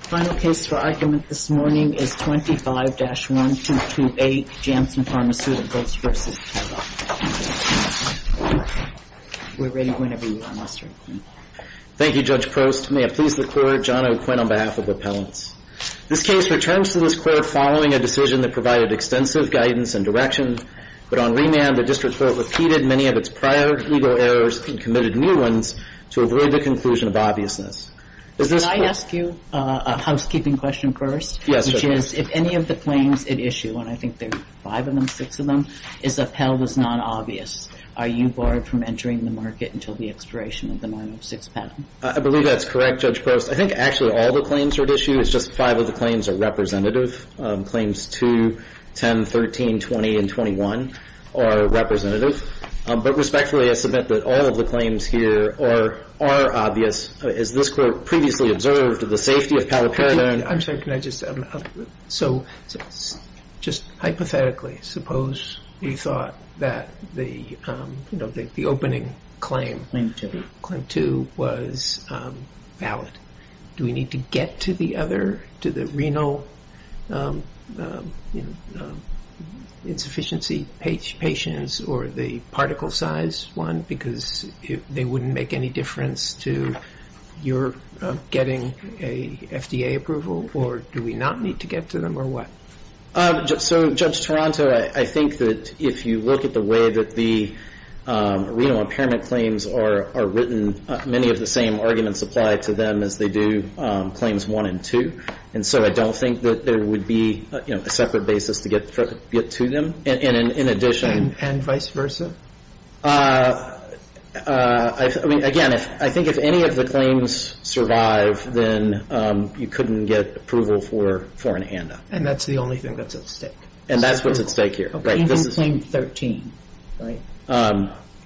Final case for argument this morning is 25-1228 Janssen Pharmaceuticals v. Teva. We're ready whenever you are, Mr. McQueen. Thank you, Judge Prost. May it please the Court, John O'Quinn on behalf of the appellants. This case returns to this Court following a decision that provided extensive guidance and direction, but on remand the District Court repeated many of its prior legal errors and committed new ones to avoid the conclusion of obviousness. Could I ask you a housekeeping question first? Yes, sure. Which is, if any of the claims at issue, and I think there are five of them, six of them, is upheld as non-obvious, are you barred from entering the market until the expiration of the 906 patent? I believe that's correct, Judge Prost. I think actually all the claims are at issue. It's just five of the claims are representative. Claims 2, 10, 13, 20, and 21 are representative. But respectfully, I submit that all of the claims here are obvious. Has this Court previously observed the safety of Palo Verde? I'm sorry, can I just, so just hypothetically, suppose we thought that the opening claim, Claim 2 was valid. Do we need to get to the other, to the renal insufficiency patients or the particle size one? Because they wouldn't make any difference to your getting a FDA approval, or do we not need to get to them, or what? So, Judge Taranto, I think that if you look at the way that the renal impairment claims are written, many of the same arguments apply to them as they do claims 1 and 2. And so I don't think that there would be a separate basis to get to them. And in addition... And vice versa? I mean, again, I think if any of the claims survive, then you couldn't get approval for an HANDA. And that's the only thing that's at stake? And that's what's at stake here. Even Claim 13, right?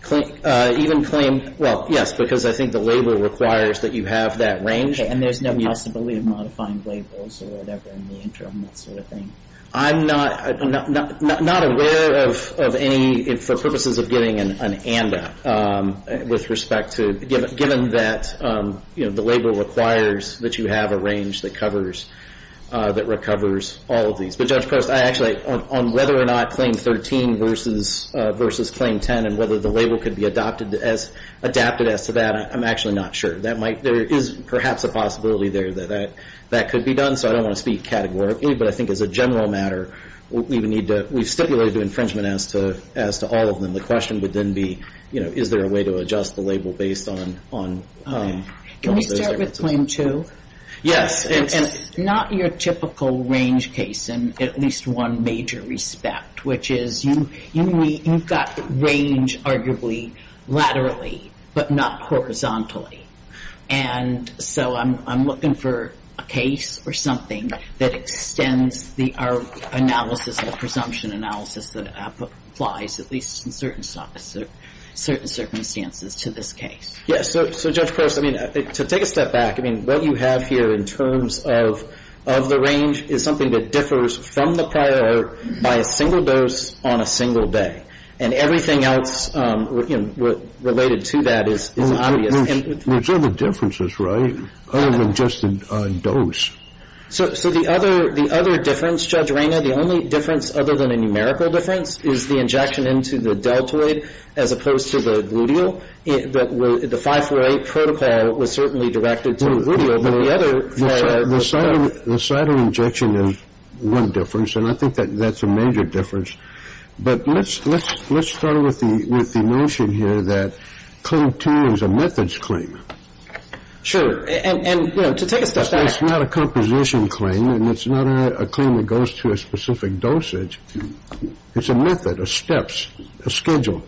Even Claim, well, yes, because I think the label requires that you have that range. And there's no possibility of modifying labels or whatever in the interim, that sort of thing? I'm not aware of any, for purposes of getting an HANDA, with respect to, given that the label requires that you have a range that recovers all of these. But, Judge Post, I actually, on whether or not Claim 13 versus Claim 10, and whether the label could be adapted as to that, I'm actually not sure. There is perhaps a possibility there that that could be done, so I don't want to speak categorically. But I think as a general matter, we've stipulated infringement as to all of them. The question would then be, is there a way to adjust the label based on those differences? Can we start with Claim 2? Yes. It's not your typical range case, in at least one major respect, which is you've got range, arguably, laterally, but not horizontally. And so I'm looking for a case or something that extends our analysis and presumption analysis that applies, at least in certain circumstances, to this case. So, Judge Post, I mean, to take a step back, I mean, what you have here in terms of the range is something that differs from the prior by a single dose on a single day. And everything else related to that is obvious. There's other differences, right, other than just the dose. So the other difference, Judge Rayner, the only difference other than a numerical difference, is the injection into the deltoid as opposed to the gluteal. The 548 protocol was certainly directed to the gluteal, but the other... The side of injection is one difference, and I think that's a major difference. But let's start with the notion here that Claim 2 is a methods claim. Sure. And, you know, to take a step back... It's not a composition claim, and it's not a claim that goes to a specific dosage. It's a method, a steps, a schedule.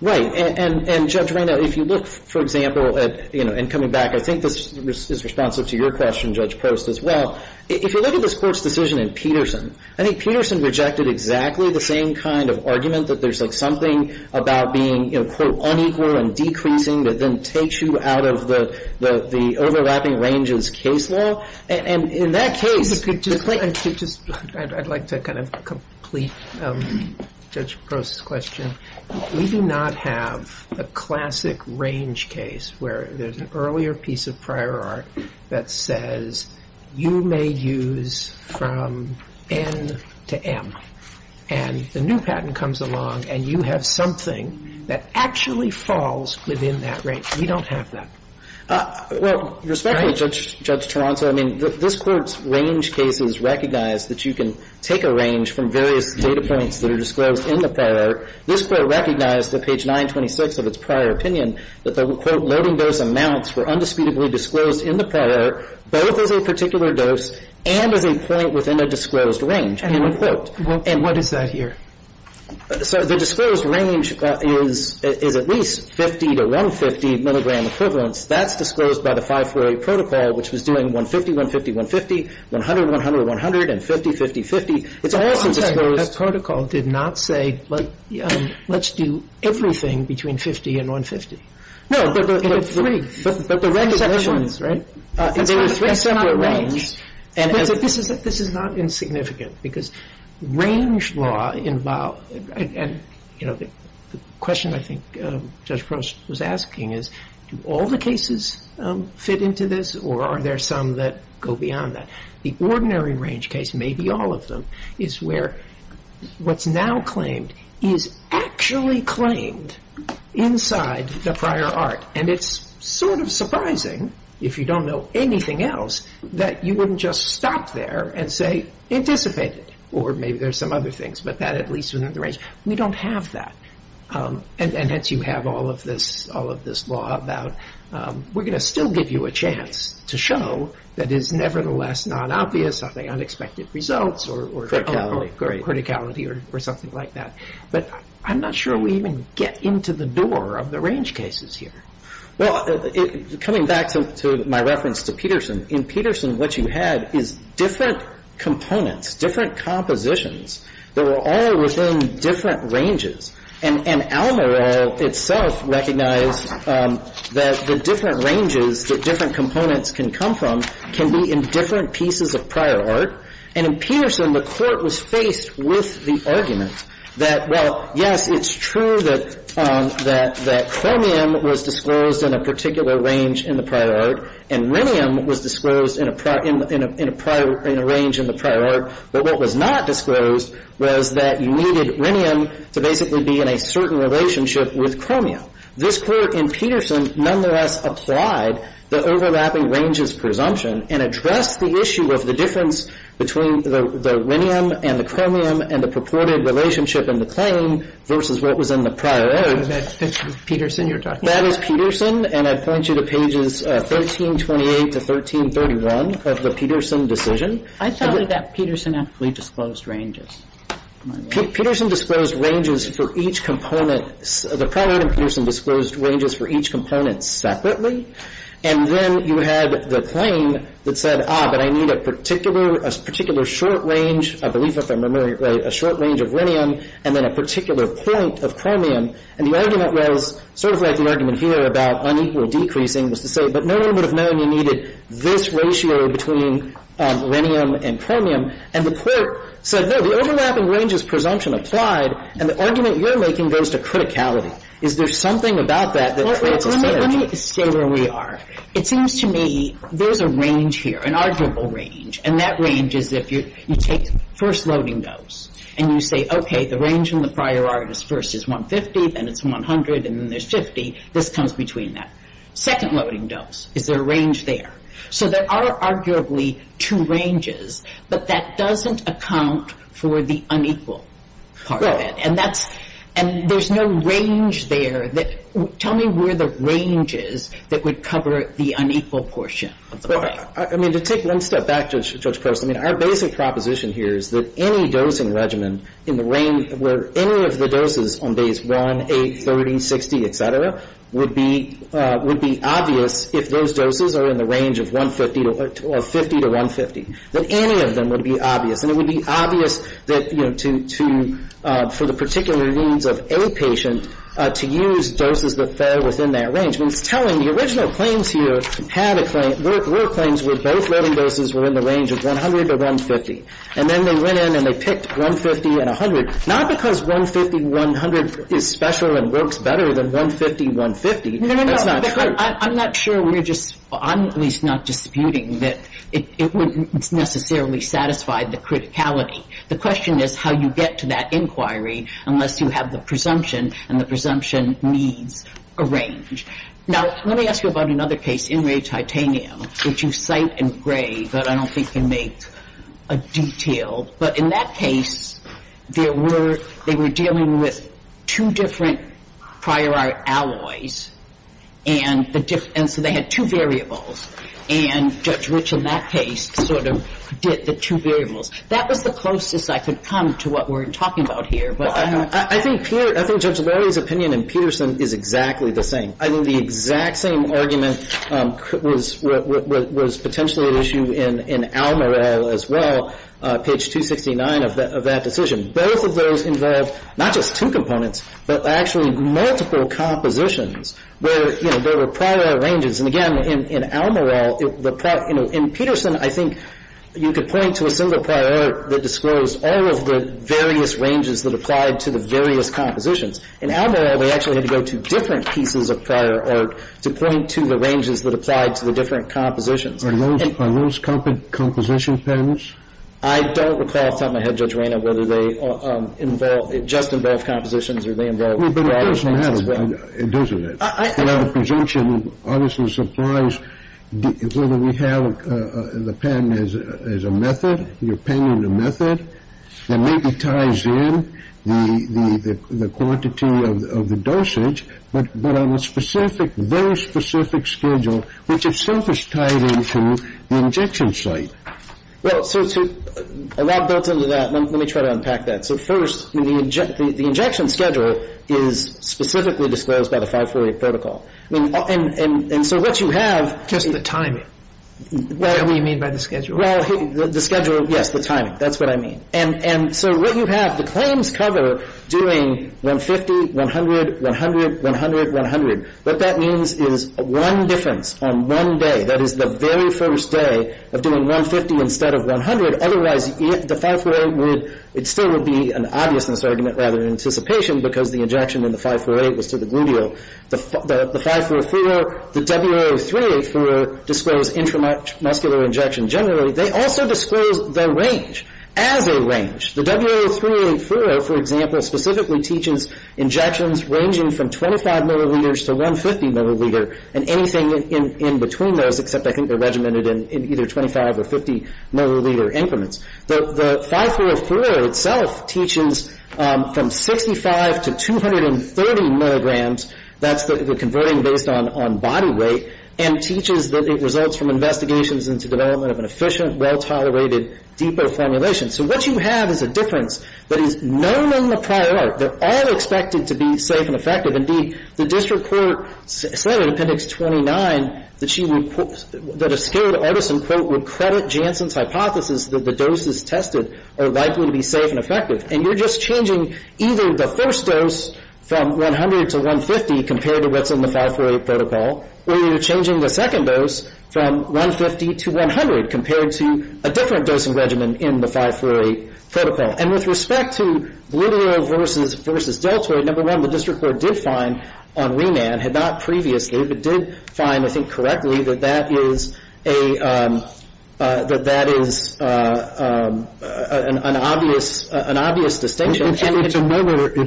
Right. And, Judge Rayner, if you look, for example, at, you know, and coming back, I think this is responsive to your question, Judge Post, as well. If you look at this Court's decision in Peterson, I think Peterson rejected exactly the same kind of argument that there's, like, something about being, you know, quote, unequal and decreasing that then takes you out of the overlapping ranges case law. And in that case... I'd like to kind of complete Judge Post's question. We do not have a classic range case where there's an earlier piece of prior art that says you may use from N to M. And the new patent comes along, and you have something that actually falls within that range. We don't have that. Well, respectfully, Judge Toronto, I mean, this Court's range case is recognized that you can take a range from various data points that are disclosed in the prior art. This Court recognized that page 926 of its prior opinion that the, quote, was at least 50 to 150 milligram equivalents. That's disclosed by the 540 protocol, which was doing 150, 150, 150, 100, 100, 100, and 50, 50, 50. It's also disclosed... That protocol did not say, let's do everything between 50 and 150. No, but... It did not say that. But there were three separate ones, right? There were three separate ones. This is not insignificant, because range law involves... And, you know, the question I think Judge Post was asking is, do all the cases fit into this, or are there some that go beyond that? The ordinary range case, maybe all of them, is where what's now claimed is actually claimed inside the prior art. And it's sort of surprising, if you don't know anything else, that you wouldn't just stop there and say, anticipate it. Or maybe there's some other things, but that at least within the range. We don't have that. And hence you have all of this law about, we're going to still give you a chance to show that it's nevertheless not obvious, are they unexpected results or... Criticality. Criticality or something like that. But I'm not sure we even get into the door of the range cases here. Well, coming back to my reference to Peterson. In Peterson, what you had is different components, different compositions that were all within different ranges. And Alamorell itself recognized that the different ranges that different components can come from can be in different pieces of prior art. And in Peterson, the Court was faced with the argument that, well, yes, it's true that chromium was disclosed in a particular range in the prior art, and rhenium was disclosed in a range in the prior art. But what was not disclosed was that you needed rhenium to basically be in a certain relationship with chromium. This Court in Peterson nonetheless applied the overlapping ranges presumption and addressed the issue of the difference between the rhenium and the chromium and the purported relationship in the claim versus what was in the prior art. And that's Peterson you're talking about? That is Peterson. And I point you to pages 1328 to 1331 of the Peterson decision. I thought that that Peterson actually disclosed ranges. Peterson disclosed ranges for each component. The prior art in Peterson disclosed ranges for each component separately. And then you had the claim that said, ah, but I need a particular, a particular short range, I believe if I remember right, a short range of rhenium and then a particular point of chromium. And the argument was sort of like the argument here about unequal decreasing was to say, but no one would have known you needed this ratio between rhenium and chromium. And the Court said, no, the overlapping ranges presumption applied, and the argument you're making goes to criticality. Is there something about that that creates a synergy? Let me stay where we are. It seems to me there's a range here, an arguable range. And that range is if you take first loading dose and you say, okay, the range in the prior art is first is 150, then it's 100, and then there's 50. This comes between that. Second loading dose, is there a range there? So there are arguably two ranges, but that doesn't account for the unequal part of it. And there's no range there. Tell me where the range is that would cover the unequal portion. I mean, to take one step back, Judge Post, I mean, our basic proposition here is that any dosing regimen in the range where any of the doses on days 1, 8, 30, 60, et cetera, would be obvious if those doses are in the range of 150 or 50 to 150, that any of them would be obvious. And it would be obvious that, you know, for the particular needs of a patient, to use doses that fare within that range. I mean, it's telling. The original claims here were claims where both loading doses were in the range of 100 or 150. And then they went in and they picked 150 and 100, not because 150, 100 is special and works better than 150, 150. That's not true. No, no, no. I'm not sure we're just, I'm at least not disputing that it would necessarily satisfy the criticality. The question is how you get to that inquiry unless you have the presumption and the presumption needs a range. Now, let me ask you about another case, Enrage-Titanium, which you cite in gray, but I don't think you make a detail. But in that case, there were, they were dealing with two different prior art alloys and the difference, and so they had two variables. And Judge Rich, in that case, sort of did the two variables. That was the closest I could come to what we're talking about here. But I'm not sure. Well, I think Peter, I think Judge Larry's opinion in Peterson is exactly the same. I think the exact same argument was potentially at issue in Almerell as well, page 269 of that decision. Both of those involved not just two components, but actually multiple compositions where, you know, there were prior arranges. And again, in Almerell, the prior, you know, in Peterson, I think you could point to a single prior art that disclosed all of the various ranges that applied to the various compositions. In Almerell, they actually had to go to different pieces of prior art to point to the ranges that applied to the different compositions. Are those composition patterns? I don't recall off the top of my head, Judge Raynor, whether they involve, just involve compositions or they involve broader things as well. It doesn't. The presumption obviously supplies whether we have the pen as a method, your pen in a method that maybe ties in the quantity of the dosage, but on a specific, very specific schedule, which itself is tied into the injection site. Well, so a lot built into that. Let me try to unpack that. So first, the injection schedule is specifically disclosed by the 548 protocol. I mean, and so what you have Just the timing. What do you mean by the schedule? Well, the schedule, yes, the timing. That's what I mean. And so what you have, the claims cover doing 150, 100, 100, 100, 100. What that means is one difference on one day. That is the very first day of doing 150 instead of 100. The 548 would otherwise, the 548 would, it still would be an obviousness argument rather than anticipation because the injection in the 548 was to the gluteal. The 548-Furo, the W038-Furo disclose intramuscular injection generally. They also disclose their range as a range. The W038-Furo, for example, specifically teaches injections ranging from 25 milliliters to 150 milliliter and anything in between those except I think they're regimented in either 25 or 50 milliliter increments. The 548-Furo itself teaches from 65 to 230 milligrams. That's the converting based on body weight and teaches that it results from investigations into development of an efficient, well-tolerated, deeper formulation. So what you have is a difference that is known in the prior art. They're all expected to be safe and effective. Indeed, the district court said in appendix 29 that she would, that a scared artisan quote would credit Janssen's hypothesis that the doses tested are likely to be safe and effective. And you're just changing either the first dose from 100 to 150 compared to what's in the 548 protocol or you're changing the second dose from 150 to 100 compared to a different dosing regimen in the 548 protocol. And with respect to liberal versus deltoid, number one, the district court did find on remand, had not previously, but did find I think correctly that that is a, that that is an obvious distinction. It's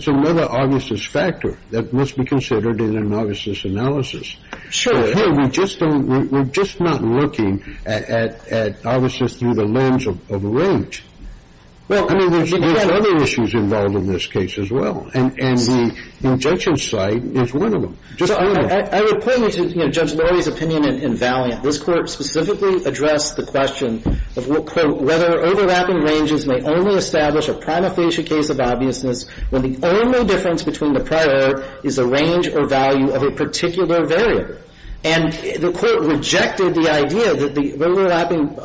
another obviousness factor that must be considered in an obviousness analysis. Sure. Here we just don't, we're just not looking at obviousness through the lens of range. Well, I mean, there's other issues involved in this case as well. And the injunction side is one of them. I would point you to Judge Lori's opinion in Valiant. This Court specifically addressed the question of, quote, whether overlapping ranges may only establish a prima facie case of obviousness when the only difference between the prior art is the range or value of a particular variable. And the Court rejected the idea that the overlapping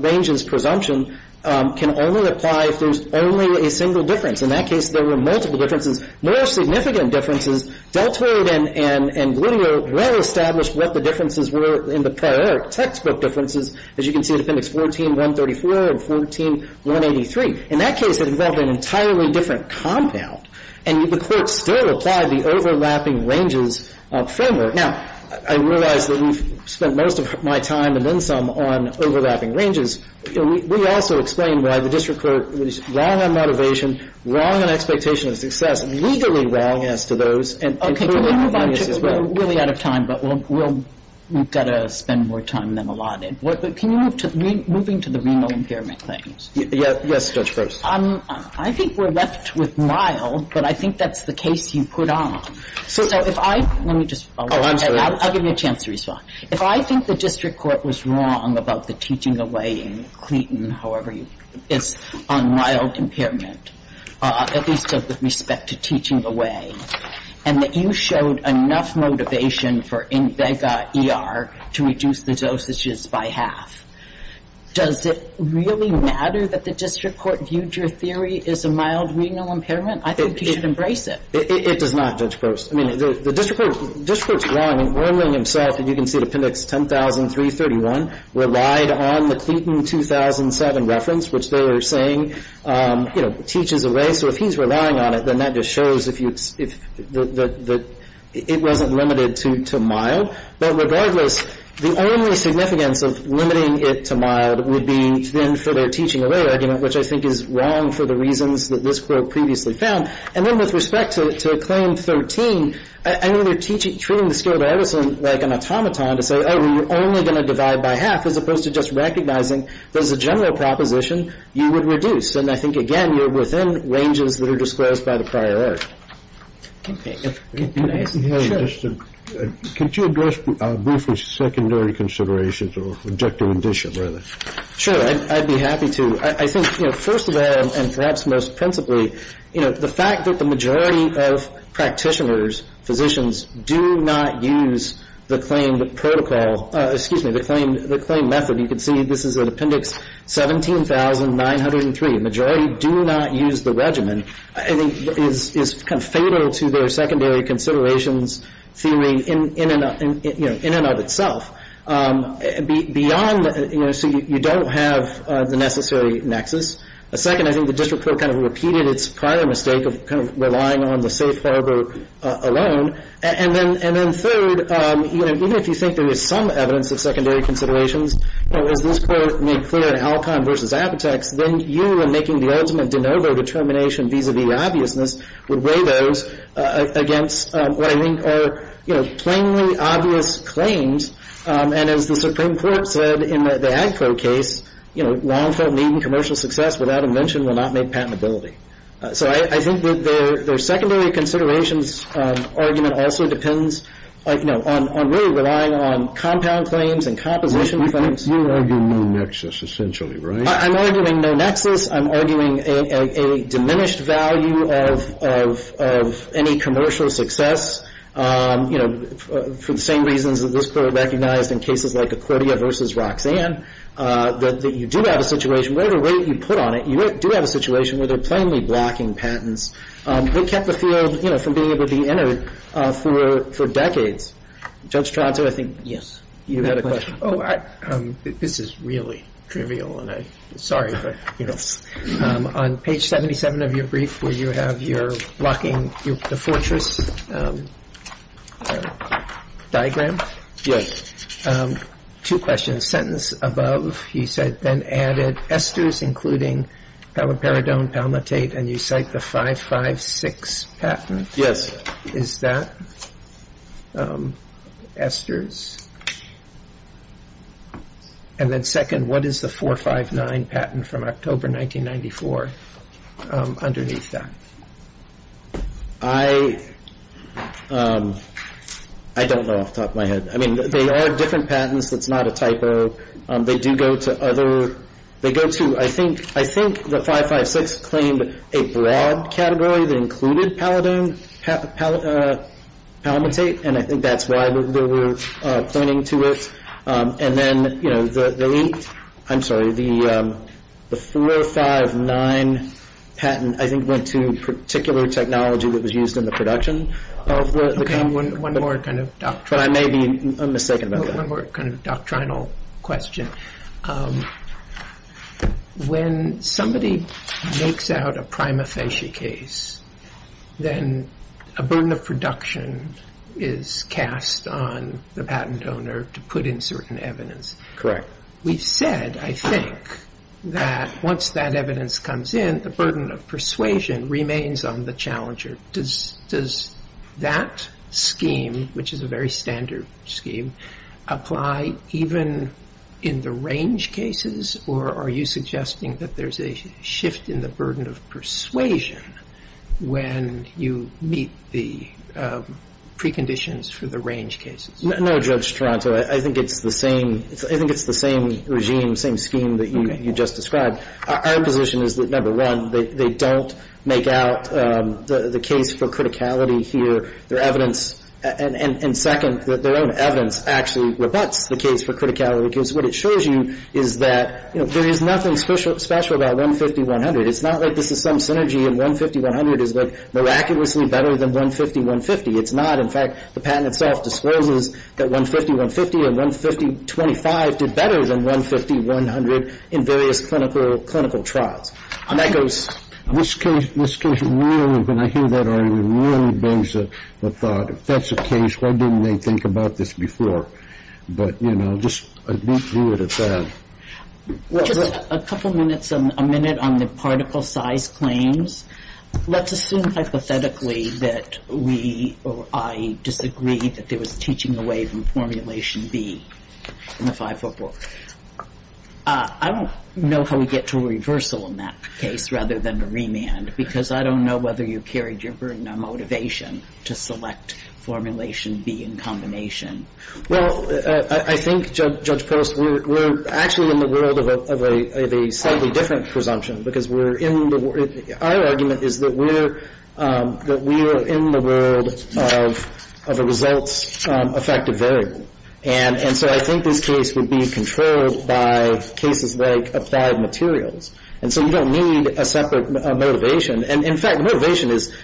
ranges presumption can only apply if there's only a single difference. In that case, there were multiple differences. More significant differences, deltoid and gluteal well established what the differences were in the prior textbook differences. As you can see in Appendix 14-134 and 14-183. In that case, it involved an entirely different compound. And the Court still applied the overlapping ranges framework. Now, I realize that we've spent most of my time and then some on overlapping ranges. We also explained why the district court was wrong on motivation, wrong on expectation of success, legally wrong as to those. Okay. Can we move on? We're really out of time. But we've got to spend more time than allotted. Can you move to moving to the renal impairment claims? Yes, Judge Gross. I think we're left with mild. But I think that's the case you put on. So if I — let me just follow up. Oh, absolutely. I'll give you a chance to respond. If I think the district court was wrong about the teaching away in Clayton, however you put this, on mild impairment, at least with respect to teaching away, and that you showed enough motivation for INVEGA ER to reduce the dosages by half, does it really matter that the district court viewed your theory as a mild renal impairment? I think you should embrace it. It does not, Judge Gross. I mean, the district court's wrong in warning himself, and you can see the appendix 10331, relied on the Clayton 2007 reference, which they were saying, you know, teaches away. So if he's relying on it, then that just shows if you — that it wasn't limited to mild. But regardless, the only significance of limiting it to mild would be then for their teaching away argument, which I think is wrong for the reasons that this Court previously found. And then with respect to Claim 13, I mean, they're treating the skilled Edison like an automaton to say, oh, we're only going to divide by half, as opposed to just recognizing that as a general proposition, you would reduce. And I think, again, you're within ranges that are disclosed by the prior error. Okay. Can I ask — Can you address briefly secondary considerations or objective addition, rather? Sure. I'd be happy to. I think, you know, first of all, and perhaps most principally, you know, the fact that the majority of practitioners, physicians, do not use the claimed protocol — excuse me, the claimed method. You can see this is in Appendix 17903. The majority do not use the regimen. I think it is kind of fatal to their secondary considerations theory in and of itself. Beyond — you know, so you don't have the necessary nexus. Second, I think the District Court kind of repeated its prior mistake of kind of relying on the safe harbor alone. And then third, you know, even if you think there is some evidence of secondary considerations, you know, as this Court made clear in Alcon v. Apotex, then you, in making the ultimate de novo determination vis-à-vis obviousness, would weigh those against what I think are, you know, plainly obvious claims. And as the Supreme Court said in the Agpro case, you know, long-form need and commercial success without invention will not make patentability. So I think that their secondary considerations argument also depends, you know, on really relying on compound claims and composition claims. You're arguing no nexus, essentially, right? I'm arguing no nexus. I'm arguing a diminished value of any commercial success, you know, for the same reasons that this Court recognized in cases like Accordia v. Roxanne, that you do have a situation where the way that you put on it, you do have a situation where they're plainly blocking patents. They kept the field, you know, from being able to be entered for decades. Judge Tronto, I think you had a question. Oh, this is really trivial, and I'm sorry, but, you know, on page 77 of your brief where you have your blocking the fortress diagram. Yes. Two questions. Sentence above, you said, then added esters, including paliperidone, palmitate, and you cite the 556 patent. Yes. Is that esters? And then second, what is the 459 patent from October 1994 underneath that? I don't know off the top of my head. I mean, they are different patents. That's not a typo. They do go to other. They go to, I think the 556 claimed a broad category that included palmitate, and I think that's why they were pointing to it. And then, you know, the leaked, I'm sorry, the 459 patent I think went to particular technology that was used in the production of the patent. One more kind of doctrinal. But I may be mistaken about that. One more kind of doctrinal question. When somebody makes out a prima facie case, then a burden of production is cast on the patent owner to put in certain evidence. Correct. We've said, I think, that once that evidence comes in, the burden of persuasion remains on the challenger. Does that scheme, which is a very standard scheme, apply even in the range cases, or are you suggesting that there's a shift in the burden of persuasion when you meet the preconditions for the range cases? No, Judge Toronto. I think it's the same regime, same scheme that you just described. Our position is that, number one, they don't make out the case for criticality here. Their evidence, and second, that their own evidence actually rebuts the case for criticality because what it shows you is that, you know, there is nothing special about 150-100. It's not like this is some synergy and 150-100 is like miraculously better than 150-150. It's not. In fact, the patent itself discloses that 150-150 and 150-25 did better than 150-100 in various clinical trials. This case really, when I hear that argument, really brings the thought, if that's the case, why didn't they think about this before? But, you know, I didn't do it at that. Just a couple minutes, a minute on the particle size claims. Let's assume hypothetically that we or I disagree that there was teaching away from formulation B in the FIFO book. I don't know how we get to a reversal in that case rather than a remand because I don't know whether you carried your burden or motivation to select formulation B in combination. Well, I think, Judge Peralta, we're actually in the world of a slightly different presumption because we're in the world – our argument is that we're – that we are in the world of a results-affected variable. And so I think this case would be controlled by cases like applied materials. And so you don't need a separate motivation. And, in fact, motivation is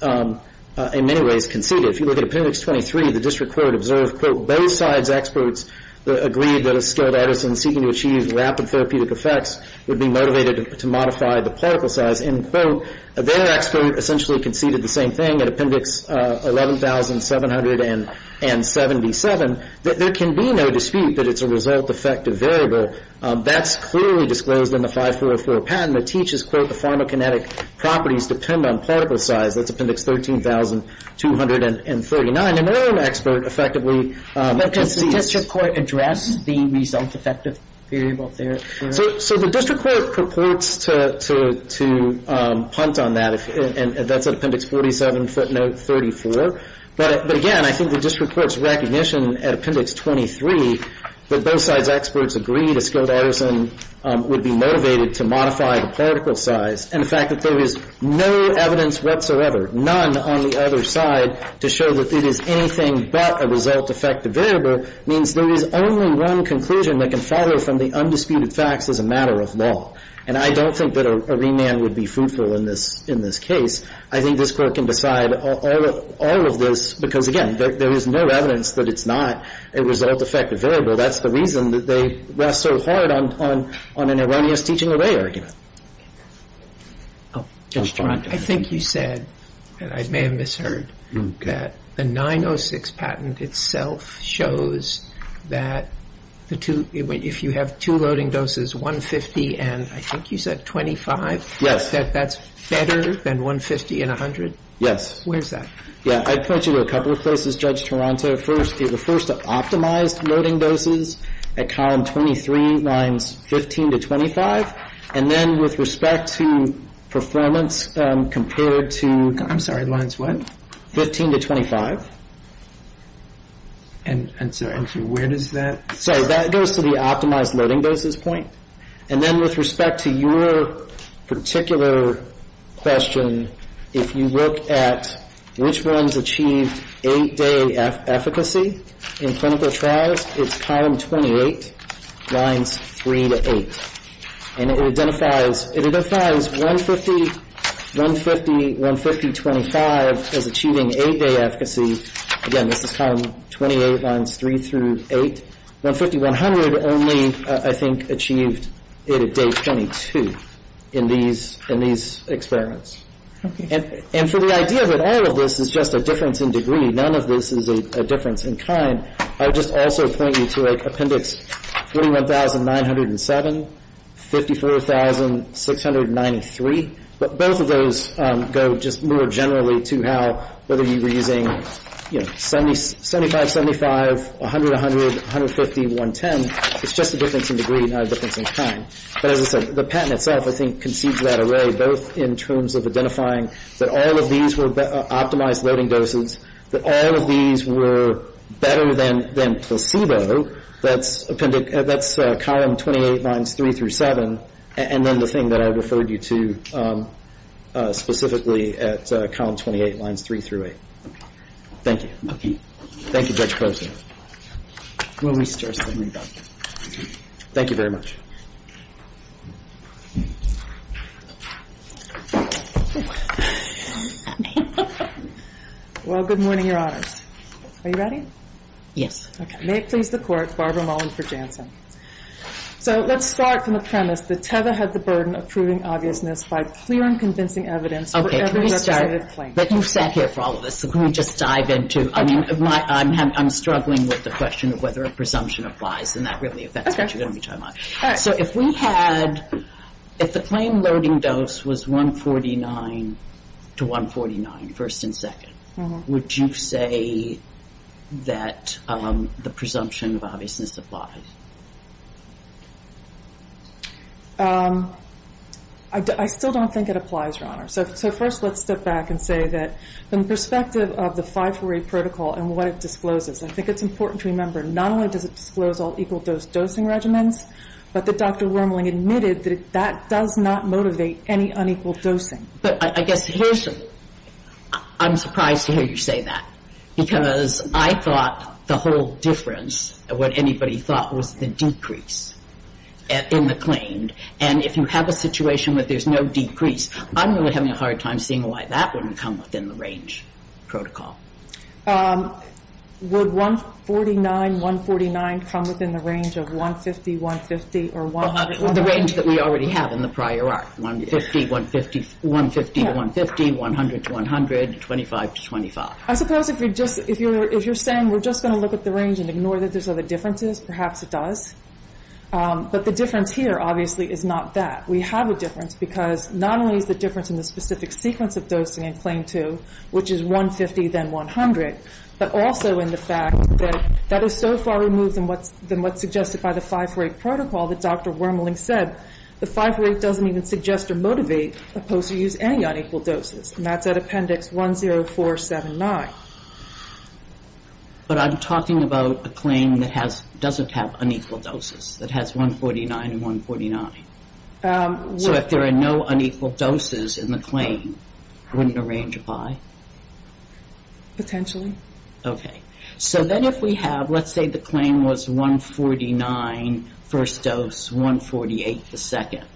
in many ways conceded. If you look at Appendix 23, the district court observed, quote, both sides' experts agreed that a skilled artisan seeking to achieve rapid therapeutic effects would be motivated to modify the particle size, end quote. Their expert essentially conceded the same thing at Appendix 11,777, that there can be no dispute that it's a results-affected variable. That's clearly disclosed in the 5404 patent. It teaches, quote, the pharmacokinetic properties depend on particle size. That's Appendix 13,239. And their own expert effectively concedes. But does the district court address the results-affected variable there? So the district court purports to punt on that, and that's at Appendix 47 footnote 34. But, again, I think the district court's recognition at Appendix 23 that both sides' experts agreed a skilled artisan would be motivated to modify the particle size and the fact that there is no evidence whatsoever, none on the other side, to show that it is anything but a results-affected variable means there is only one conclusion that can follow from the undisputed facts as a matter of law. And I don't think that a remand would be fruitful in this case. I think this court can decide all of this because, again, there is no evidence that it's not a results-affected variable. That's the reason that they rest so hard on an erroneous teaching-away argument. Oh, Judge Taranto. I think you said, and I may have misheard, that the 906 patent itself shows that if you have two loading doses, 150 and I think you said 25, that that's better than 150 and 100? Yes. Where's that? Yeah, I point you to a couple of places, Judge Taranto. First, it refers to optimized loading doses at column 23, lines 15 to 25. And then with respect to performance compared to 15 to 25. And so where does that? So that goes to the optimized loading doses point. And then with respect to your particular question, if you look at which ones achieved eight-day efficacy in clinical trials, it's column 28, lines 3 to 8. And it identifies 150, 150, 150, 25 as achieving eight-day efficacy. Again, this is column 28, lines 3 through 8. 150, 100 only, I think, achieved it at day 22 in these experiments. And for the idea that all of this is just a difference in degree, none of this is a difference in kind, I would just also point you to Appendix 31907, 54693. But both of those go just more generally to how whether you were using 75, 75, 100, 100, 150, 110, it's just a difference in degree, not a difference in kind. But as I said, the patent itself, I think, concedes that array, both in terms of identifying that all of these were optimized loading doses, that all of these were better than placebo. That's column 28, lines 3 through 7. And then the thing that I referred you to specifically at column 28, lines 3 through 8. Thank you. Thank you, Judge Poston. We'll restart the rebuttal. Thank you very much. Well, good morning, Your Honors. Are you ready? Yes. Okay. May it please the Court. Barbara Mullen for Jansen. So let's start from the premise that Teva had the burden of proving obviousness by clear and convincing evidence for every representative claim. Okay. But you've sat here for all of this, so can we just dive into – I mean, I'm struggling with the question of whether a presumption applies, and that really affects what you're going to be talking about. So if we had – if the claim loading dose was 149 to 149, first and second, would you say that the presumption of obviousness applies? I still don't think it applies, Your Honor. So first let's step back and say that from the perspective of the 548 protocol and what it discloses, I think it's important to remember, not only does it disclose all equal dose dosing regimens, but that Dr. Wormling admitted that that does not motivate any unequal dosing. But I guess here's – I'm surprised to hear you say that, because I thought the whole difference, what anybody thought, was the decrease in the claim. And if you have a situation where there's no decrease, I'm really having a hard time seeing why that wouldn't come within the range protocol. Would 149, 149 come within the range of 150, 150, or 100? The range that we already have in the prior art. 150 to 150, 100 to 100, 25 to 25. I suppose if you're just – if you're saying we're just going to look at the range and ignore that there's other differences, perhaps it does. But the difference here, obviously, is not that. We have a difference because not only is the difference in the specific sequence of dosing in Claim 2, which is 150, then 100, but also in the fact that that is so far removed than what's suggested by the 5-for-8 protocol that Dr. Wormling said. The 5-for-8 doesn't even suggest or motivate opposed to use any unequal doses. And that's at Appendix 10479. But I'm talking about a claim that has – doesn't have unequal doses, that has 149 and 149. So if there are no unequal doses in the claim, wouldn't a range apply? Potentially. Okay. So then if we have – let's say the claim was 149 first dose, 148 the second.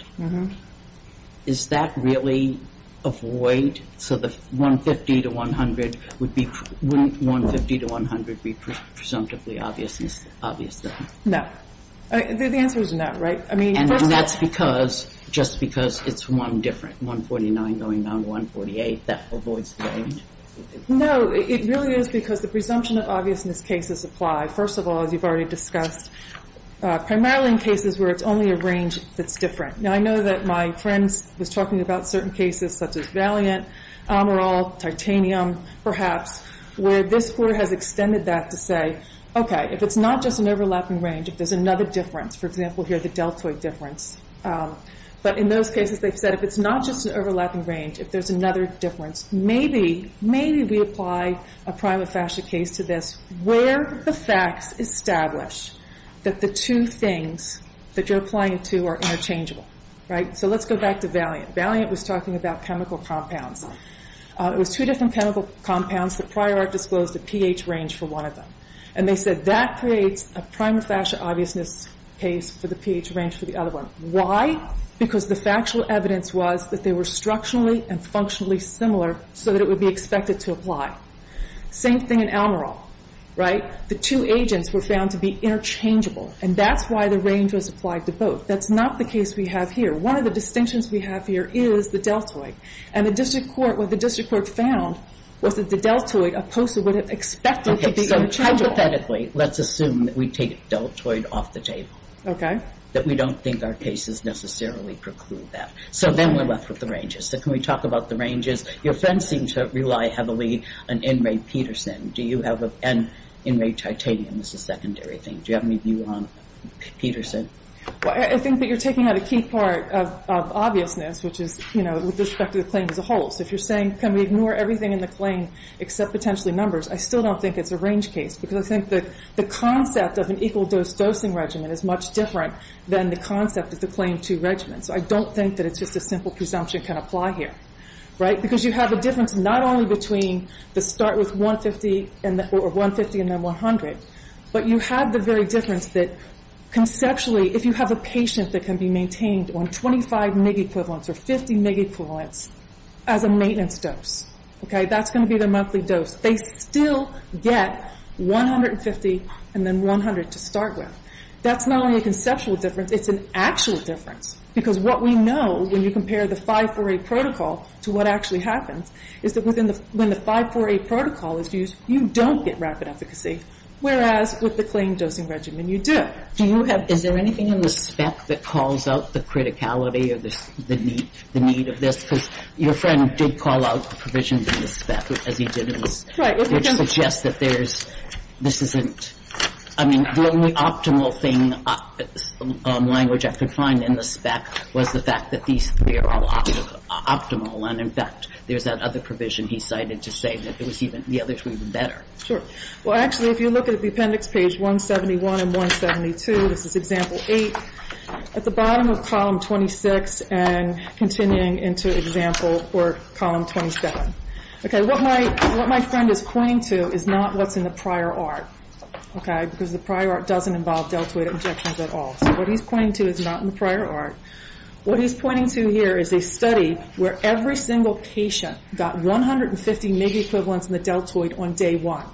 Is that really a void? So the 150 to 100 would be – wouldn't 150 to 100 be presumptively obvious then? No. The answer is no, right? And that's because – just because it's one different, 149 going down to 148, that avoids the range? No, it really is because the presumption of obviousness cases apply, first of all, as you've already discussed, primarily in cases where it's only a range that's different. Now, I know that my friend was talking about certain cases such as Valiant, Amaral, titanium perhaps, where this court has extended that to say, okay, if it's not just an overlapping range, if there's another difference, for example here the deltoid difference, but in those cases they've said, if it's not just an overlapping range, if there's another difference, maybe, maybe we apply a prima facie case to this where the facts establish that the two things that you're applying to are interchangeable, right? So let's go back to Valiant. Valiant was talking about chemical compounds. It was two different chemical compounds. The prior art disclosed a pH range for one of them. And they said that creates a prima facie obviousness case for the pH range for the other one. Why? Because the factual evidence was that they were structurally and functionally similar so that it would be expected to apply. Same thing in Amaral, right? The two agents were found to be interchangeable, and that's why the range was applied to both. That's not the case we have here. One of the distinctions we have here is the deltoid. And the district court, what the district court found was that the deltoid, opposed to what it expected to be interchangeable. So hypothetically, let's assume that we take deltoid off the table. Okay. That we don't think our cases necessarily preclude that. So then we're left with the ranges. So can we talk about the ranges? Your friends seem to rely heavily on NRA Peterson. Do you have an NRA titanium as a secondary thing? Do you have any view on Peterson? Well, I think that you're taking out a key part of obviousness, which is, you know, with respect to the claim as a whole. So if you're saying can we ignore everything in the claim except potentially numbers, I still don't think it's a range case. Because I think that the concept of an equal dose dosing regimen is much different than the concept of the claim to regimen. So I don't think that it's just a simple presumption can apply here, right? Because you have a difference not only between the start with 150 and then 100, but you have the very difference that conceptually, if you have a patient that can be maintained on 25 MIG equivalents or 50 MIG equivalents as a maintenance dose, okay, that's going to be their monthly dose. They still get 150 and then 100 to start with. That's not only a conceptual difference, it's an actual difference. Because what we know when you compare the 548 protocol to what actually happens is that when the 548 protocol is used, you don't get rapid efficacy, whereas with the claim dosing regimen, you do. Do you have – is there anything in the spec that calls out the criticality or the need of this? Because your friend did call out provisions in the spec, as he did in the spec, which suggests that there's – this isn't – I mean, the only optimal thing, language I could find in the spec was the fact that these three are all optimal. And, in fact, there's that other provision he cited to say that there was even – the other three were better. Sure. Well, actually, if you look at the appendix page 171 and 172, this is example 8, at the bottom of column 26 and continuing into example or column 27. What my friend is pointing to is not what's in the prior art, because the prior art doesn't involve deltoid injections at all. So what he's pointing to is not in the prior art. What he's pointing to here is a study where every single patient got 150 MIG equivalents in the deltoid on day one.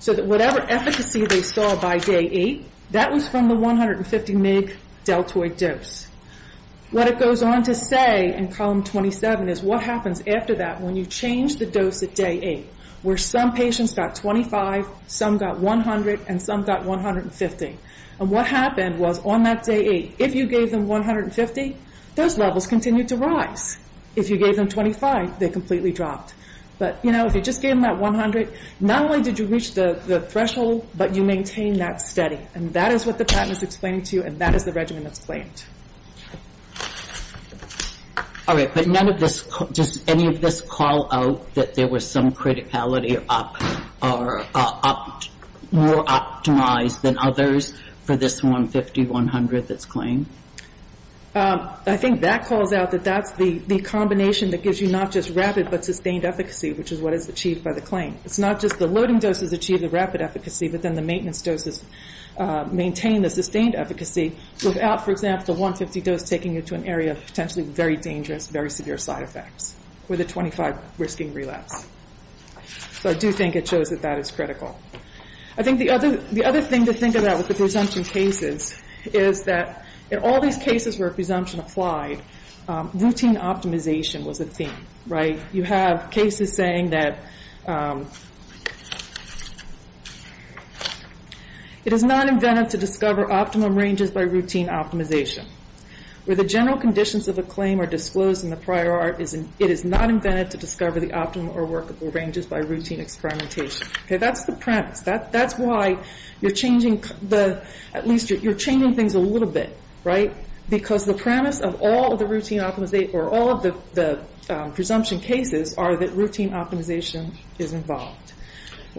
So that whatever efficacy they saw by day eight, that was from the 150 MIG deltoid dose. What it goes on to say in column 27 is what happens after that when you change the dose at day eight, where some patients got 25, some got 100, and some got 150. And what happened was on that day eight, if you gave them 150, those levels continued to rise. If you gave them 25, they completely dropped. But, you know, if you just gave them that 100, not only did you reach the threshold, but you maintained that study. And that is what the patent is explaining to you, and that is the regimen that's claimed. All right. But none of this, does any of this call out that there was some criticality or more optimized than others for this 150, 100 that's claimed? I think that calls out that that's the combination that gives you not just rapid but sustained efficacy, which is what is achieved by the claim. It's not just the loading doses achieve the rapid efficacy, but then the maintenance doses maintain the sustained efficacy without, for example, the 150 dose taking you to an area of potentially very dangerous, very severe side effects with a 25-risking relapse. So I do think it shows that that is critical. I think the other thing to think about with the presumption cases is that in all these cases where presumption applied, routine optimization was a theme. You have cases saying that it is not inventive to discover optimum ranges by routine optimization. Where the general conditions of a claim are disclosed in the prior art, it is not inventive to discover the optimum or workable ranges by routine experimentation. That's the premise. That's why you're changing things a little bit. Because the premise of all the presumption cases are that routine optimization is involved.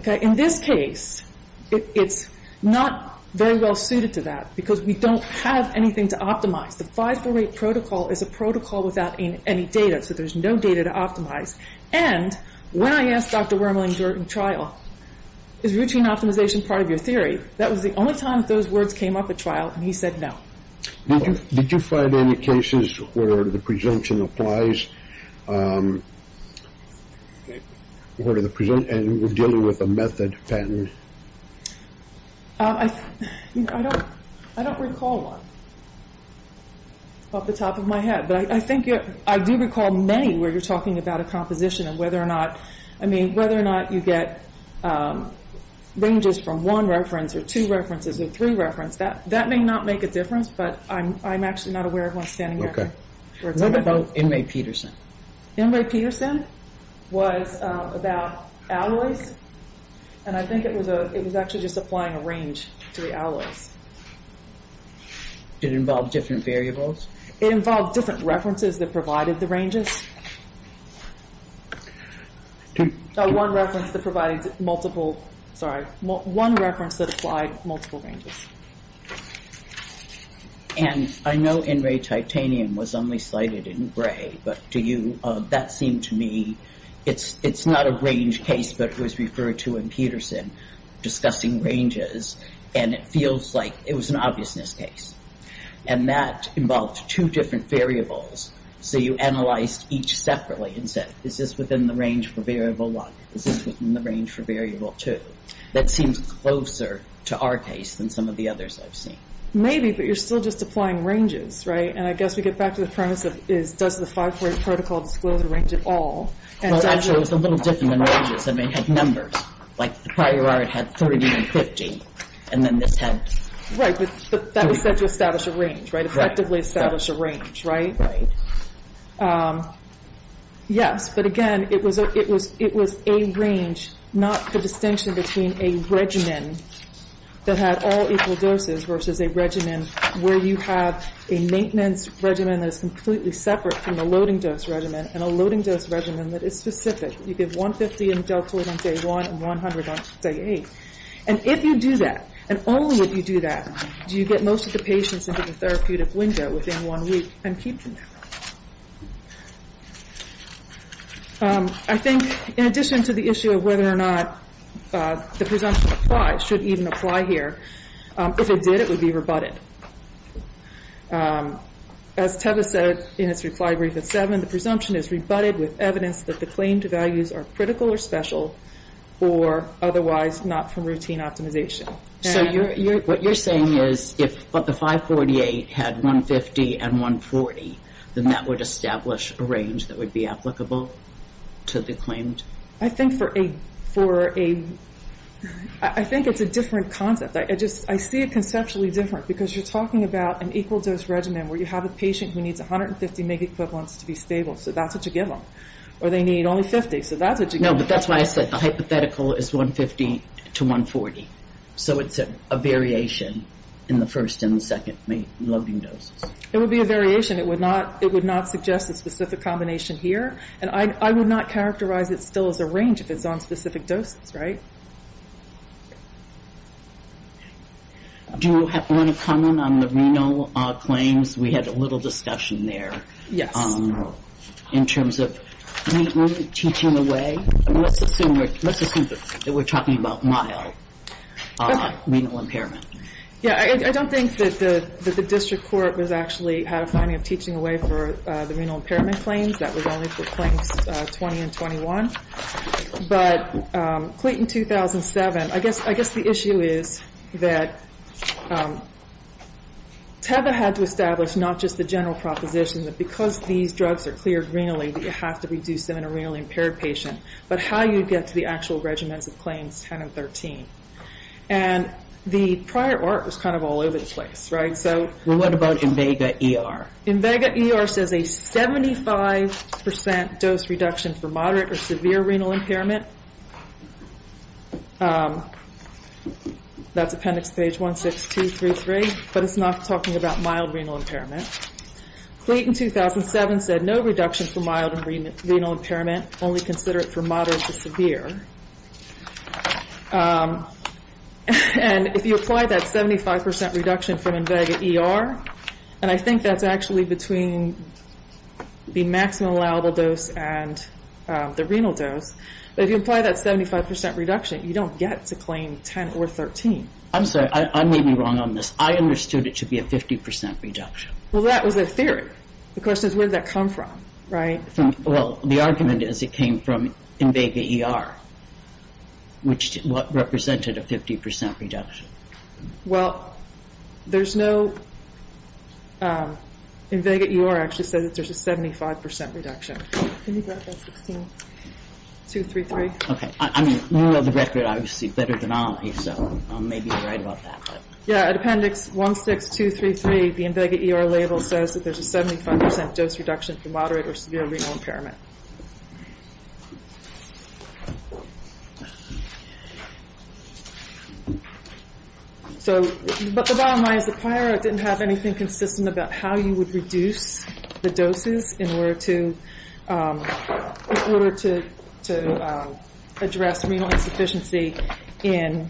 In this case, it's not very well suited to that because we don't have anything to optimize. The 548 protocol is a protocol without any data, so there's no data to optimize. And when I asked Dr. Wormley during trial, is routine optimization part of your theory, that was the only time that those words came up at trial, and he said no. Did you find any cases where the presumption applies and we're dealing with a method pattern? I don't recall one off the top of my head. I do recall many where you're talking about a composition of whether or not you get ranges from one reference or two references or three references. That may not make a difference, but I'm actually not aware of one standing there. What about Inmate Peterson? Inmate Peterson was about alloys, and I think it was actually just applying a range to the alloys. Did it involve different variables? It involved different references that provided the ranges. One reference that provided multiple, sorry, one reference that applied multiple ranges. And I know N-ray titanium was only cited in gray, but do you, that seemed to me, it's not a range case, but it was referred to in Peterson discussing ranges, and it feels like it was an obviousness case. And that involved two different variables, so you analyzed each separately and said, is this within the range for variable one? Is this within the range for variable two? That seems closer to our case than some of the others I've seen. Maybe, but you're still just applying ranges, right? And I guess we get back to the premise of does the 540 protocol disclose a range at all? Well, actually, it was a little different than ranges. I mean, it had numbers. Like the prior art had 30 and 50, and then this had 30. Right, but that was said to establish a range, right, effectively establish a range, right? Yes, but again, it was a range, not the distinction between a regimen that had all equal doses versus a regimen where you have a maintenance regimen that is completely separate from the loading dose regimen and a loading dose regimen that is specific. You give 150 in deltoid on day one and 100 on day eight. And if you do that, and only if you do that, do you get most of the patients into the therapeutic window within one week and keep them there. I think in addition to the issue of whether or not the presumption applies, should even apply here, if it did, it would be rebutted. As Teva said in his reply brief at 7, the presumption is rebutted with evidence that the claim to values are critical or special or otherwise not from routine optimization. So what you're saying is if the 548 had 150 and 140, then that would establish a range that would be applicable to the claimed? I think it's a different concept. I see it conceptually different because you're talking about an equal dose regimen where you have a patient who needs 150 mg equivalents to be stable, so that's what you give them. Or they need only 50, so that's what you give them. No, but that's why I said the hypothetical is 150 to 140. So it's a variation in the first and the second loading doses. It would be a variation. It would not suggest a specific combination here. And I would not characterize it still as a range if it's on specific doses, right? Do you want to comment on the renal claims? We had a little discussion there. Yes. In terms of teaching away. Let's assume that we're talking about mild renal impairment. Yeah. I don't think that the district court was actually had a finding of teaching away for the renal impairment claims. That was only for claims 20 and 21. But Cleeton 2007, I guess the issue is that TEVA had to establish not just the general proposition that because these drugs are cleared renally, that you have to reduce them in a renally impaired patient, but how you get to the actual regimens of claims 10 and 13. And the prior art was kind of all over the place, right? Well, what about Invega ER? Invega ER says a 75% dose reduction for moderate or severe renal impairment. That's appendix page 16233, but it's not talking about mild renal impairment. Cleeton 2007 said no reduction for mild renal impairment, only consider it for moderate to severe. And if you apply that 75% reduction from Invega ER, and I think that's actually between the maximum allowable dose and the renal dose, but if you apply that 75% reduction, you don't get to claim 10 or 13. I'm sorry. I may be wrong on this. I understood it to be a 50% reduction. Well, that was a theory. The question is where did that come from, right? Well, the argument is it came from Invega ER, which represented a 50% reduction. Well, there's no Invega ER actually said that there's a 75% reduction. Can you grab that 16233? Okay. I mean, you know the record obviously better than I, so I may be right about that. Yeah. At appendix 16233, the Invega ER label says that there's a 75% dose reduction for moderate or severe renal impairment. But the bottom line is the prior didn't have anything consistent about how you would reduce the doses in order to address renal insufficiency in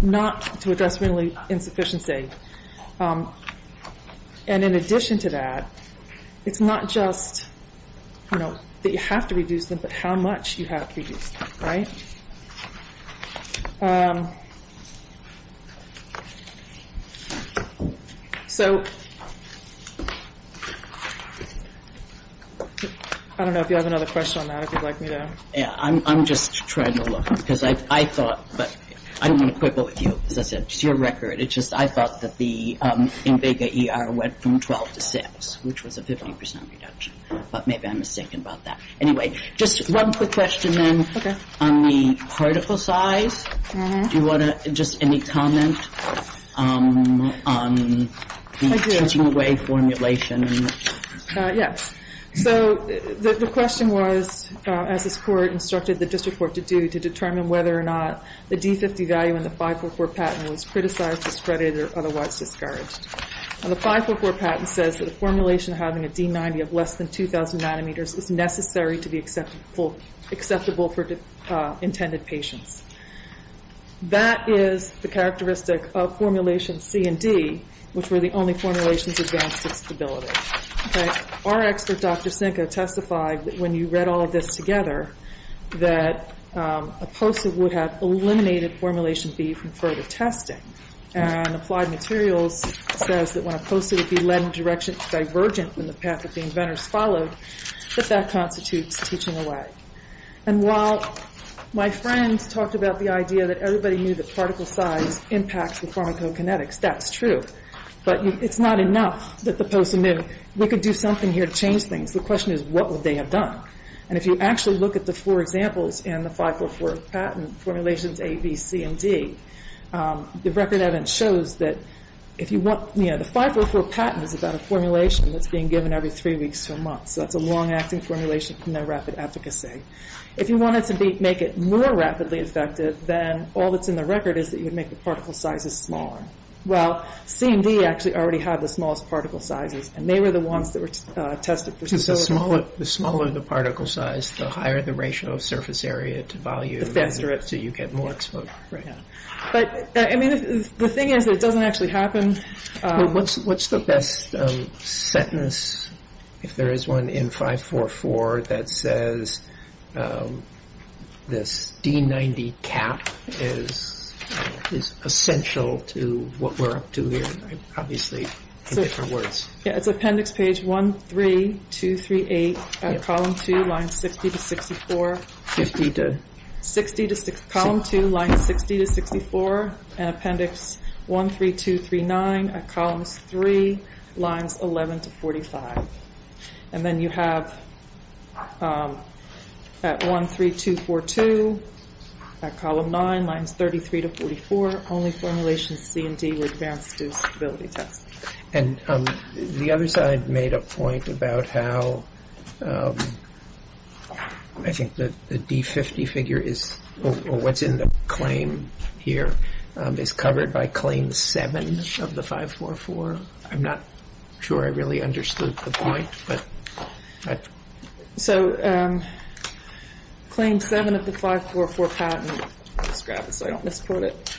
not to address renal insufficiency. And in addition to that, it's not just that you have to reduce them, but how much you have to reduce them, right? Um, so I don't know if you have another question on that if you'd like me to. Yeah, I'm just trying to look because I thought, but I don't want to quibble with you. As I said, it's your record. It's just I thought that the Invega ER went from 12 to 6, which was a 50% reduction. But maybe I'm mistaken about that. Anyway, just one quick question then. On the particle size. Do you want to just any comment on the counting away formulation? Yes. So the question was, as this court instructed the district court to do to determine whether or not the D50 value in the 544 patent was criticized, discredited, or otherwise discouraged. The 544 patent says that a formulation having a D90 of less than 2,000 nanometers is necessary to be acceptable for intended patients. That is the characteristic of formulation C and D, which were the only formulations advanced to stability. Our expert, Dr. Sinkow, testified that when you read all of this together, that a POSA would have eliminated formulation B from further testing. And Applied Materials says that when a POSA would be led in directions divergent from the path that the inventors followed, that that constitutes teaching away. And while my friends talked about the idea that everybody knew that particle size impacts the pharmacokinetics, that's true. But it's not enough that the POSA knew we could do something here to change things. The question is, what would they have done? And if you actually look at the four examples in the 544 patent formulations A, B, C, and D, the record evidence shows that the 544 patent is about a formulation that's being given every three weeks to a month. So that's a long-acting formulation with no rapid efficacy. If you wanted to make it more rapidly effective, then all that's in the record is that you would make the particle sizes smaller. Well, C and D actually already had the smallest particle sizes, and they were the ones that were tested for stability. So the smaller the particle size, the higher the ratio of surface area to volume. The faster it is. So you get more exposure. But, I mean, the thing is that it doesn't actually happen. What's the best sentence, if there is one, in 544 that says this D90 cap is essential to what we're up to here? Obviously, in different words. Yeah, it's appendix page 13238 at column 2, lines 60 to 64. 60 to? 60 to, column 2, lines 60 to 64, and appendix 13239 at columns 3, lines 11 to 45. And then you have at 13242 at column 9, lines 33 to 44, only formulations C and D were advanced to stability tests. And the other side made a point about how I think the D50 figure is, or what's in the claim here, is covered by claim 7 of the 544. I'm not sure I really understood the point. So claim 7 of the 544 patent, let's grab it so I don't misquote it,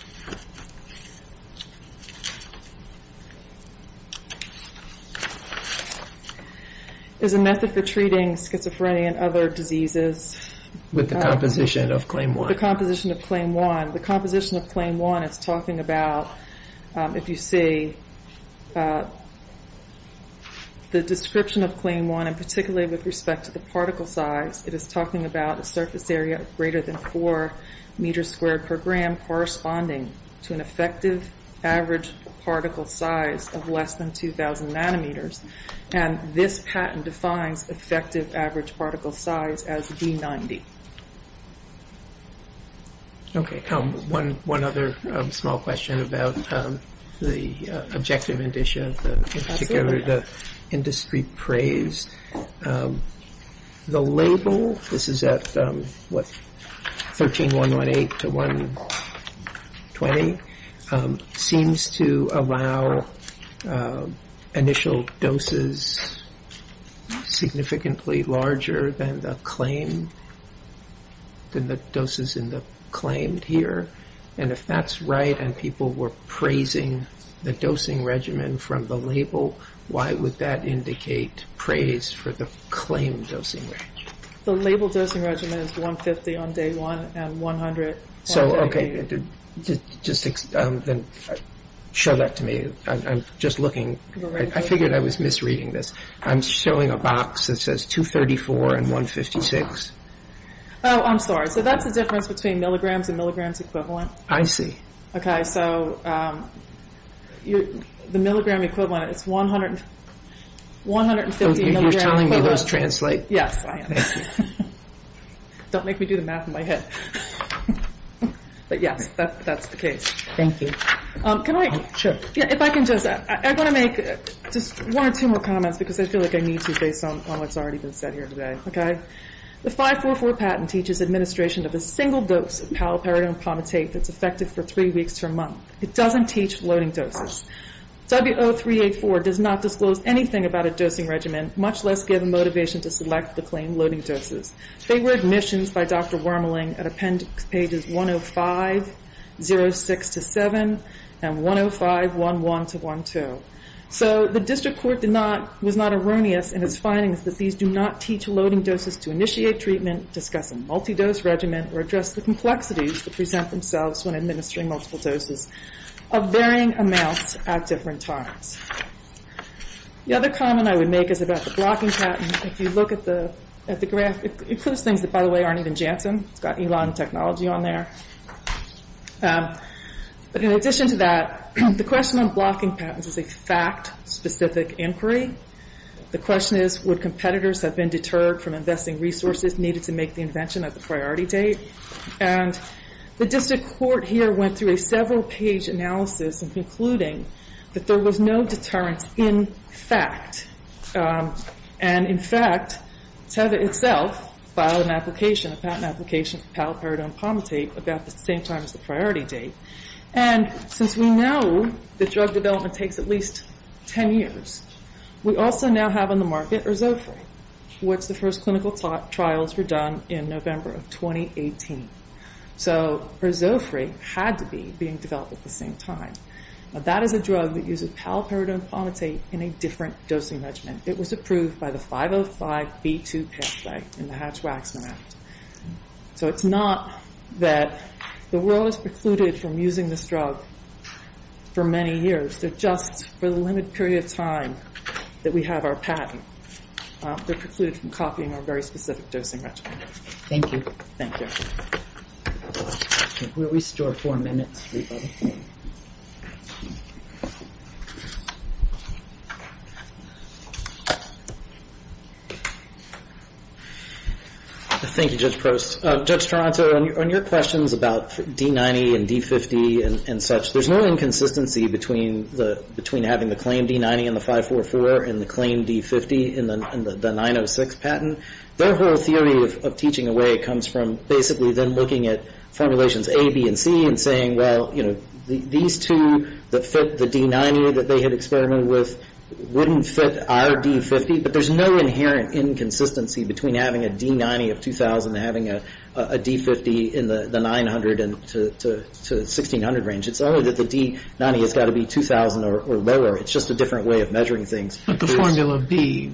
is a method for treating schizophrenia and other diseases. With the composition of claim 1. With the composition of claim 1, the composition of claim 1 is talking about, if you see the description of claim 1, and particularly with respect to the particle size, it is talking about a surface area greater than 4 meters squared per gram corresponding to an effective average particle size of less than 2,000 nanometers. And this patent defines effective average particle size as D90. Okay. One other small question about the objective indicia, in particular the industry praise. The label, this is at, what, 13118 to 120, seems to allow initial doses significantly larger than the claim, than the doses in the claim here. And if that's right, and people were praising the dosing regimen from the label, why would that indicate praise for the claim dosing regimen? The label dosing regimen is 150 on day 1 and 100 on day 8. So, okay, just show that to me. I'm just looking. I figured I was misreading this. I'm showing a box that says 234 and 156. Oh, I'm sorry, so that's the difference between milligrams and milligrams equivalent. I see. Okay, so the milligram equivalent is 150 milligrams. You're telling me those translate. Yes, I am. Don't make me do the math in my head. But, yes, that's the case. Thank you. Can I? If I can just, I want to make just one or two more comments because I feel like I need to based on what's already been said here today. Okay? The 544 patent teaches administration of a single dose of paliperidone pomatate that's effective for three weeks to a month. It doesn't teach loading doses. W0384 does not disclose anything about a dosing regimen, much less give motivation to select the claim loading doses. They were admissions by Dr. Wormling at appendix pages 105, 06 to 7, and 105, 11 to 12. So the district court did not, was not erroneous in its findings that these do not teach loading doses to initiate treatment, discuss a multi-dose regimen, or address the complexities that present themselves when administering multiple doses of varying amounts at different times. The other comment I would make is about the blocking patent. If you look at the graph, it includes things that, by the way, aren't even Janssen. It's got Elon technology on there. But in addition to that, the question on blocking patents is a fact-specific inquiry. The question is, would competitors have been deterred from investing resources needed to make the invention at the priority date? And the district court here went through a several-page analysis in concluding that there was no deterrence in fact. And in fact, Tether itself filed an application, a patent application for paliperidone palmitate about the same time as the priority date. And since we know that drug development takes at least 10 years, we also now have on the market erzofra, which the first clinical trials were done in November of 2018. So erzofra had to be being developed at the same time. That is a drug that uses paliperidone palmitate in a different dosing regimen. It was approved by the 505B2 pathway in the Hatch-Waxman Act. So it's not that the world is precluded from using this drug for many years. They're just for the limited period of time that we have our patent. They're precluded from copying our very specific dosing regimen. Thank you. Thank you. We'll restore four minutes. Thank you, Judge Prost. Judge Toronto, on your questions about D-90 and D-50 and such, there's no inconsistency between having the claim D-90 in the 544 and the claim D-50 in the 906 patent. Their whole theory of teaching away comes from basically them looking at formulations A, B, and C and saying, well, you know, these two that fit the D-90 that they had experimented with wouldn't fit our D-50. But there's no inherent inconsistency between having a D-90 of 2000 and having a D-50 in the 900 to 1600 range. It's only that the D-90 has got to be 2000 or lower. It's just a different way of measuring things. But the formula B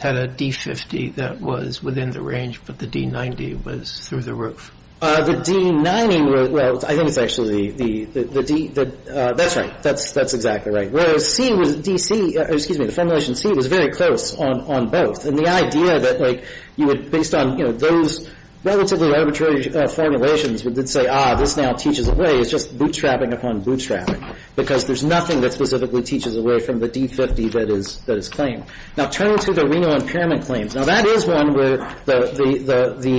had a D-50 that was within the range, but the D-90 was through the roof. The D-90, well, I think it's actually the D- That's right. That's exactly right. Whereas C was D-C, excuse me, the formulation C was very close on both. And the idea that, like, you would, based on, you know, those relatively arbitrary formulations would say, ah, this now teaches away, it's just bootstrapping upon bootstrapping because there's nothing that specifically teaches away from the D-50 that is claimed. Now, turning to the renal impairment claims. Now, that is one where the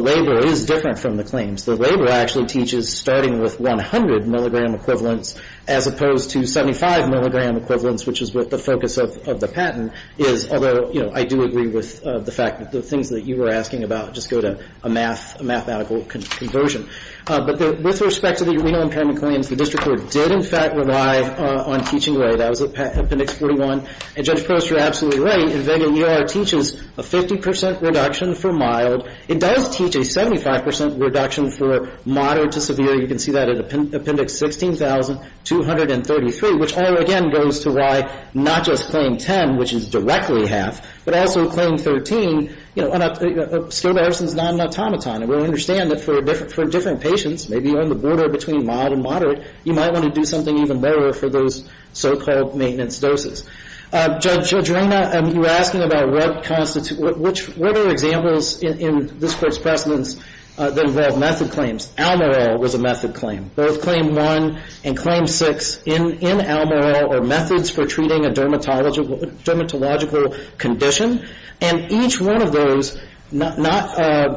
labor is different from the claims. The labor actually teaches starting with 100 milligram equivalents as opposed to 75 milligram equivalents, which is what the focus of the patent is. Although, you know, I do agree with the fact that the things that you were asking about just go to a math, a mathematical conversion. But with respect to the renal impairment claims, the district court did, in fact, rely on teaching away. That was Appendix 41. And Judge Post, you're absolutely right. Invega-ER teaches a 50 percent reduction for mild. It does teach a 75 percent reduction for moderate to severe. You can see that in Appendix 16,233, which all, again, goes to why not just Claim 10, which is directly half, but also Claim 13, you know, Skoda Ericsson's non-automaton. And we understand that for different patients, maybe you're on the border between mild and moderate, you might want to do something even better for those so-called maintenance doses. Judge Adrena, you were asking about what constitutes, what are examples in this court's precedents that involve method claims? Almorel was a method claim. Both Claim 1 and Claim 6 in Almorel are methods for treating a dermatological condition. And each one of those, not,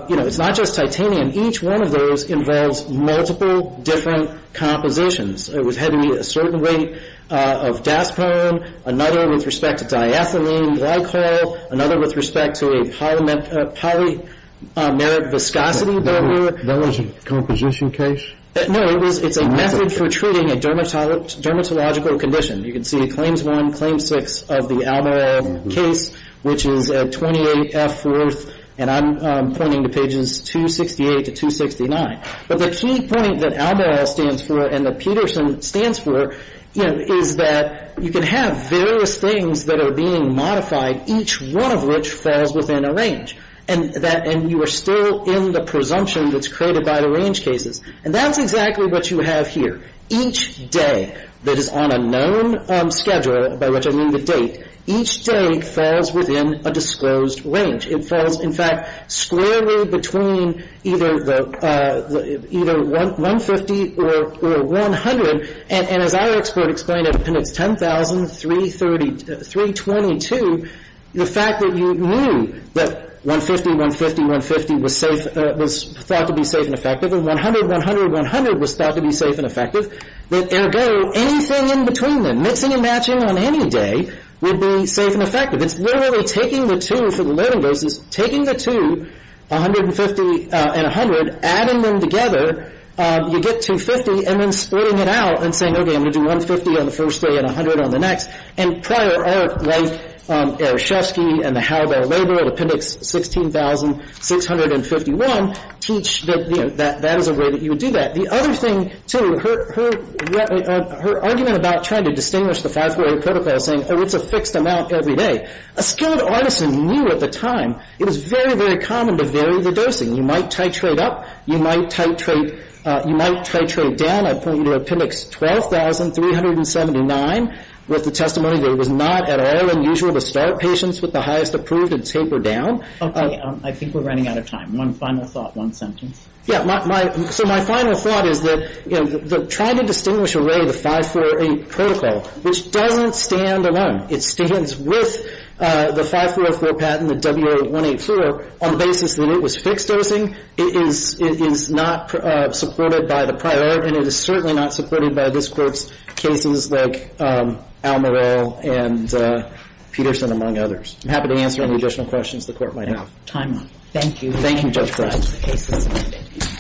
you know, it's not just titanium. Each one of those involves multiple different compositions. It had to be a certain weight of daspone, another with respect to diethylene glycol, another with respect to a polymeric viscosity barrier. That was a composition case? No, it's a method for treating a dermatological condition. You can see Claims 1, Claim 6 of the Almorel case, which is at 28F4, and I'm pointing to pages 268 to 269. But the key point that Almorel stands for and that Peterson stands for, you know, is that you can have various things that are being modified, each one of which falls within a range. And you are still in the presumption that's created by the range cases. And that's exactly what you have here. Each day that is on a known schedule, by which I mean the date, each day falls within a disclosed range. It falls, in fact, squarely between either 150 or 100. And as our expert explained, it's 10,322. The fact that you knew that 150, 150, 150 was safe, was thought to be safe and effective, 100, 100, 100 was thought to be safe and effective, that ergo anything in between them, mixing and matching on any day, would be safe and effective. It's literally taking the two for the learning purposes, taking the two, 150 and 100, adding them together, you get 250 and then splitting it out and saying, okay, I'm going to do 150 on the first day and 100 on the next. And prior art like Arashefsky and the Howard L. Labor at Appendix 16,651 teach that, you know, that is a way that you would do that. The other thing, too, her argument about trying to distinguish the 548 protocol saying, oh, it's a fixed amount every day. A skilled artisan knew at the time it was very, very common to vary the dosing. You might titrate up. You might titrate down. I point you to Appendix 12,379 with the testimony that it was not at all unusual to start patients with the highest approved and taper down. I think we're running out of time. One final thought, one sentence. Yeah. So my final thought is that, you know, trying to distinguish away the 548 protocol, which doesn't stand alone. It stands with the 5404 patent, the WA184, on the basis that it was fixed dosing. It is not supported by the prior art, and it is certainly not supported by this Court's cases like Almerell and Peterson, among others. I'm happy to answer any additional questions the Court might have. Time up. Thank you. Thank you, Judge Breyer. The case is submitted.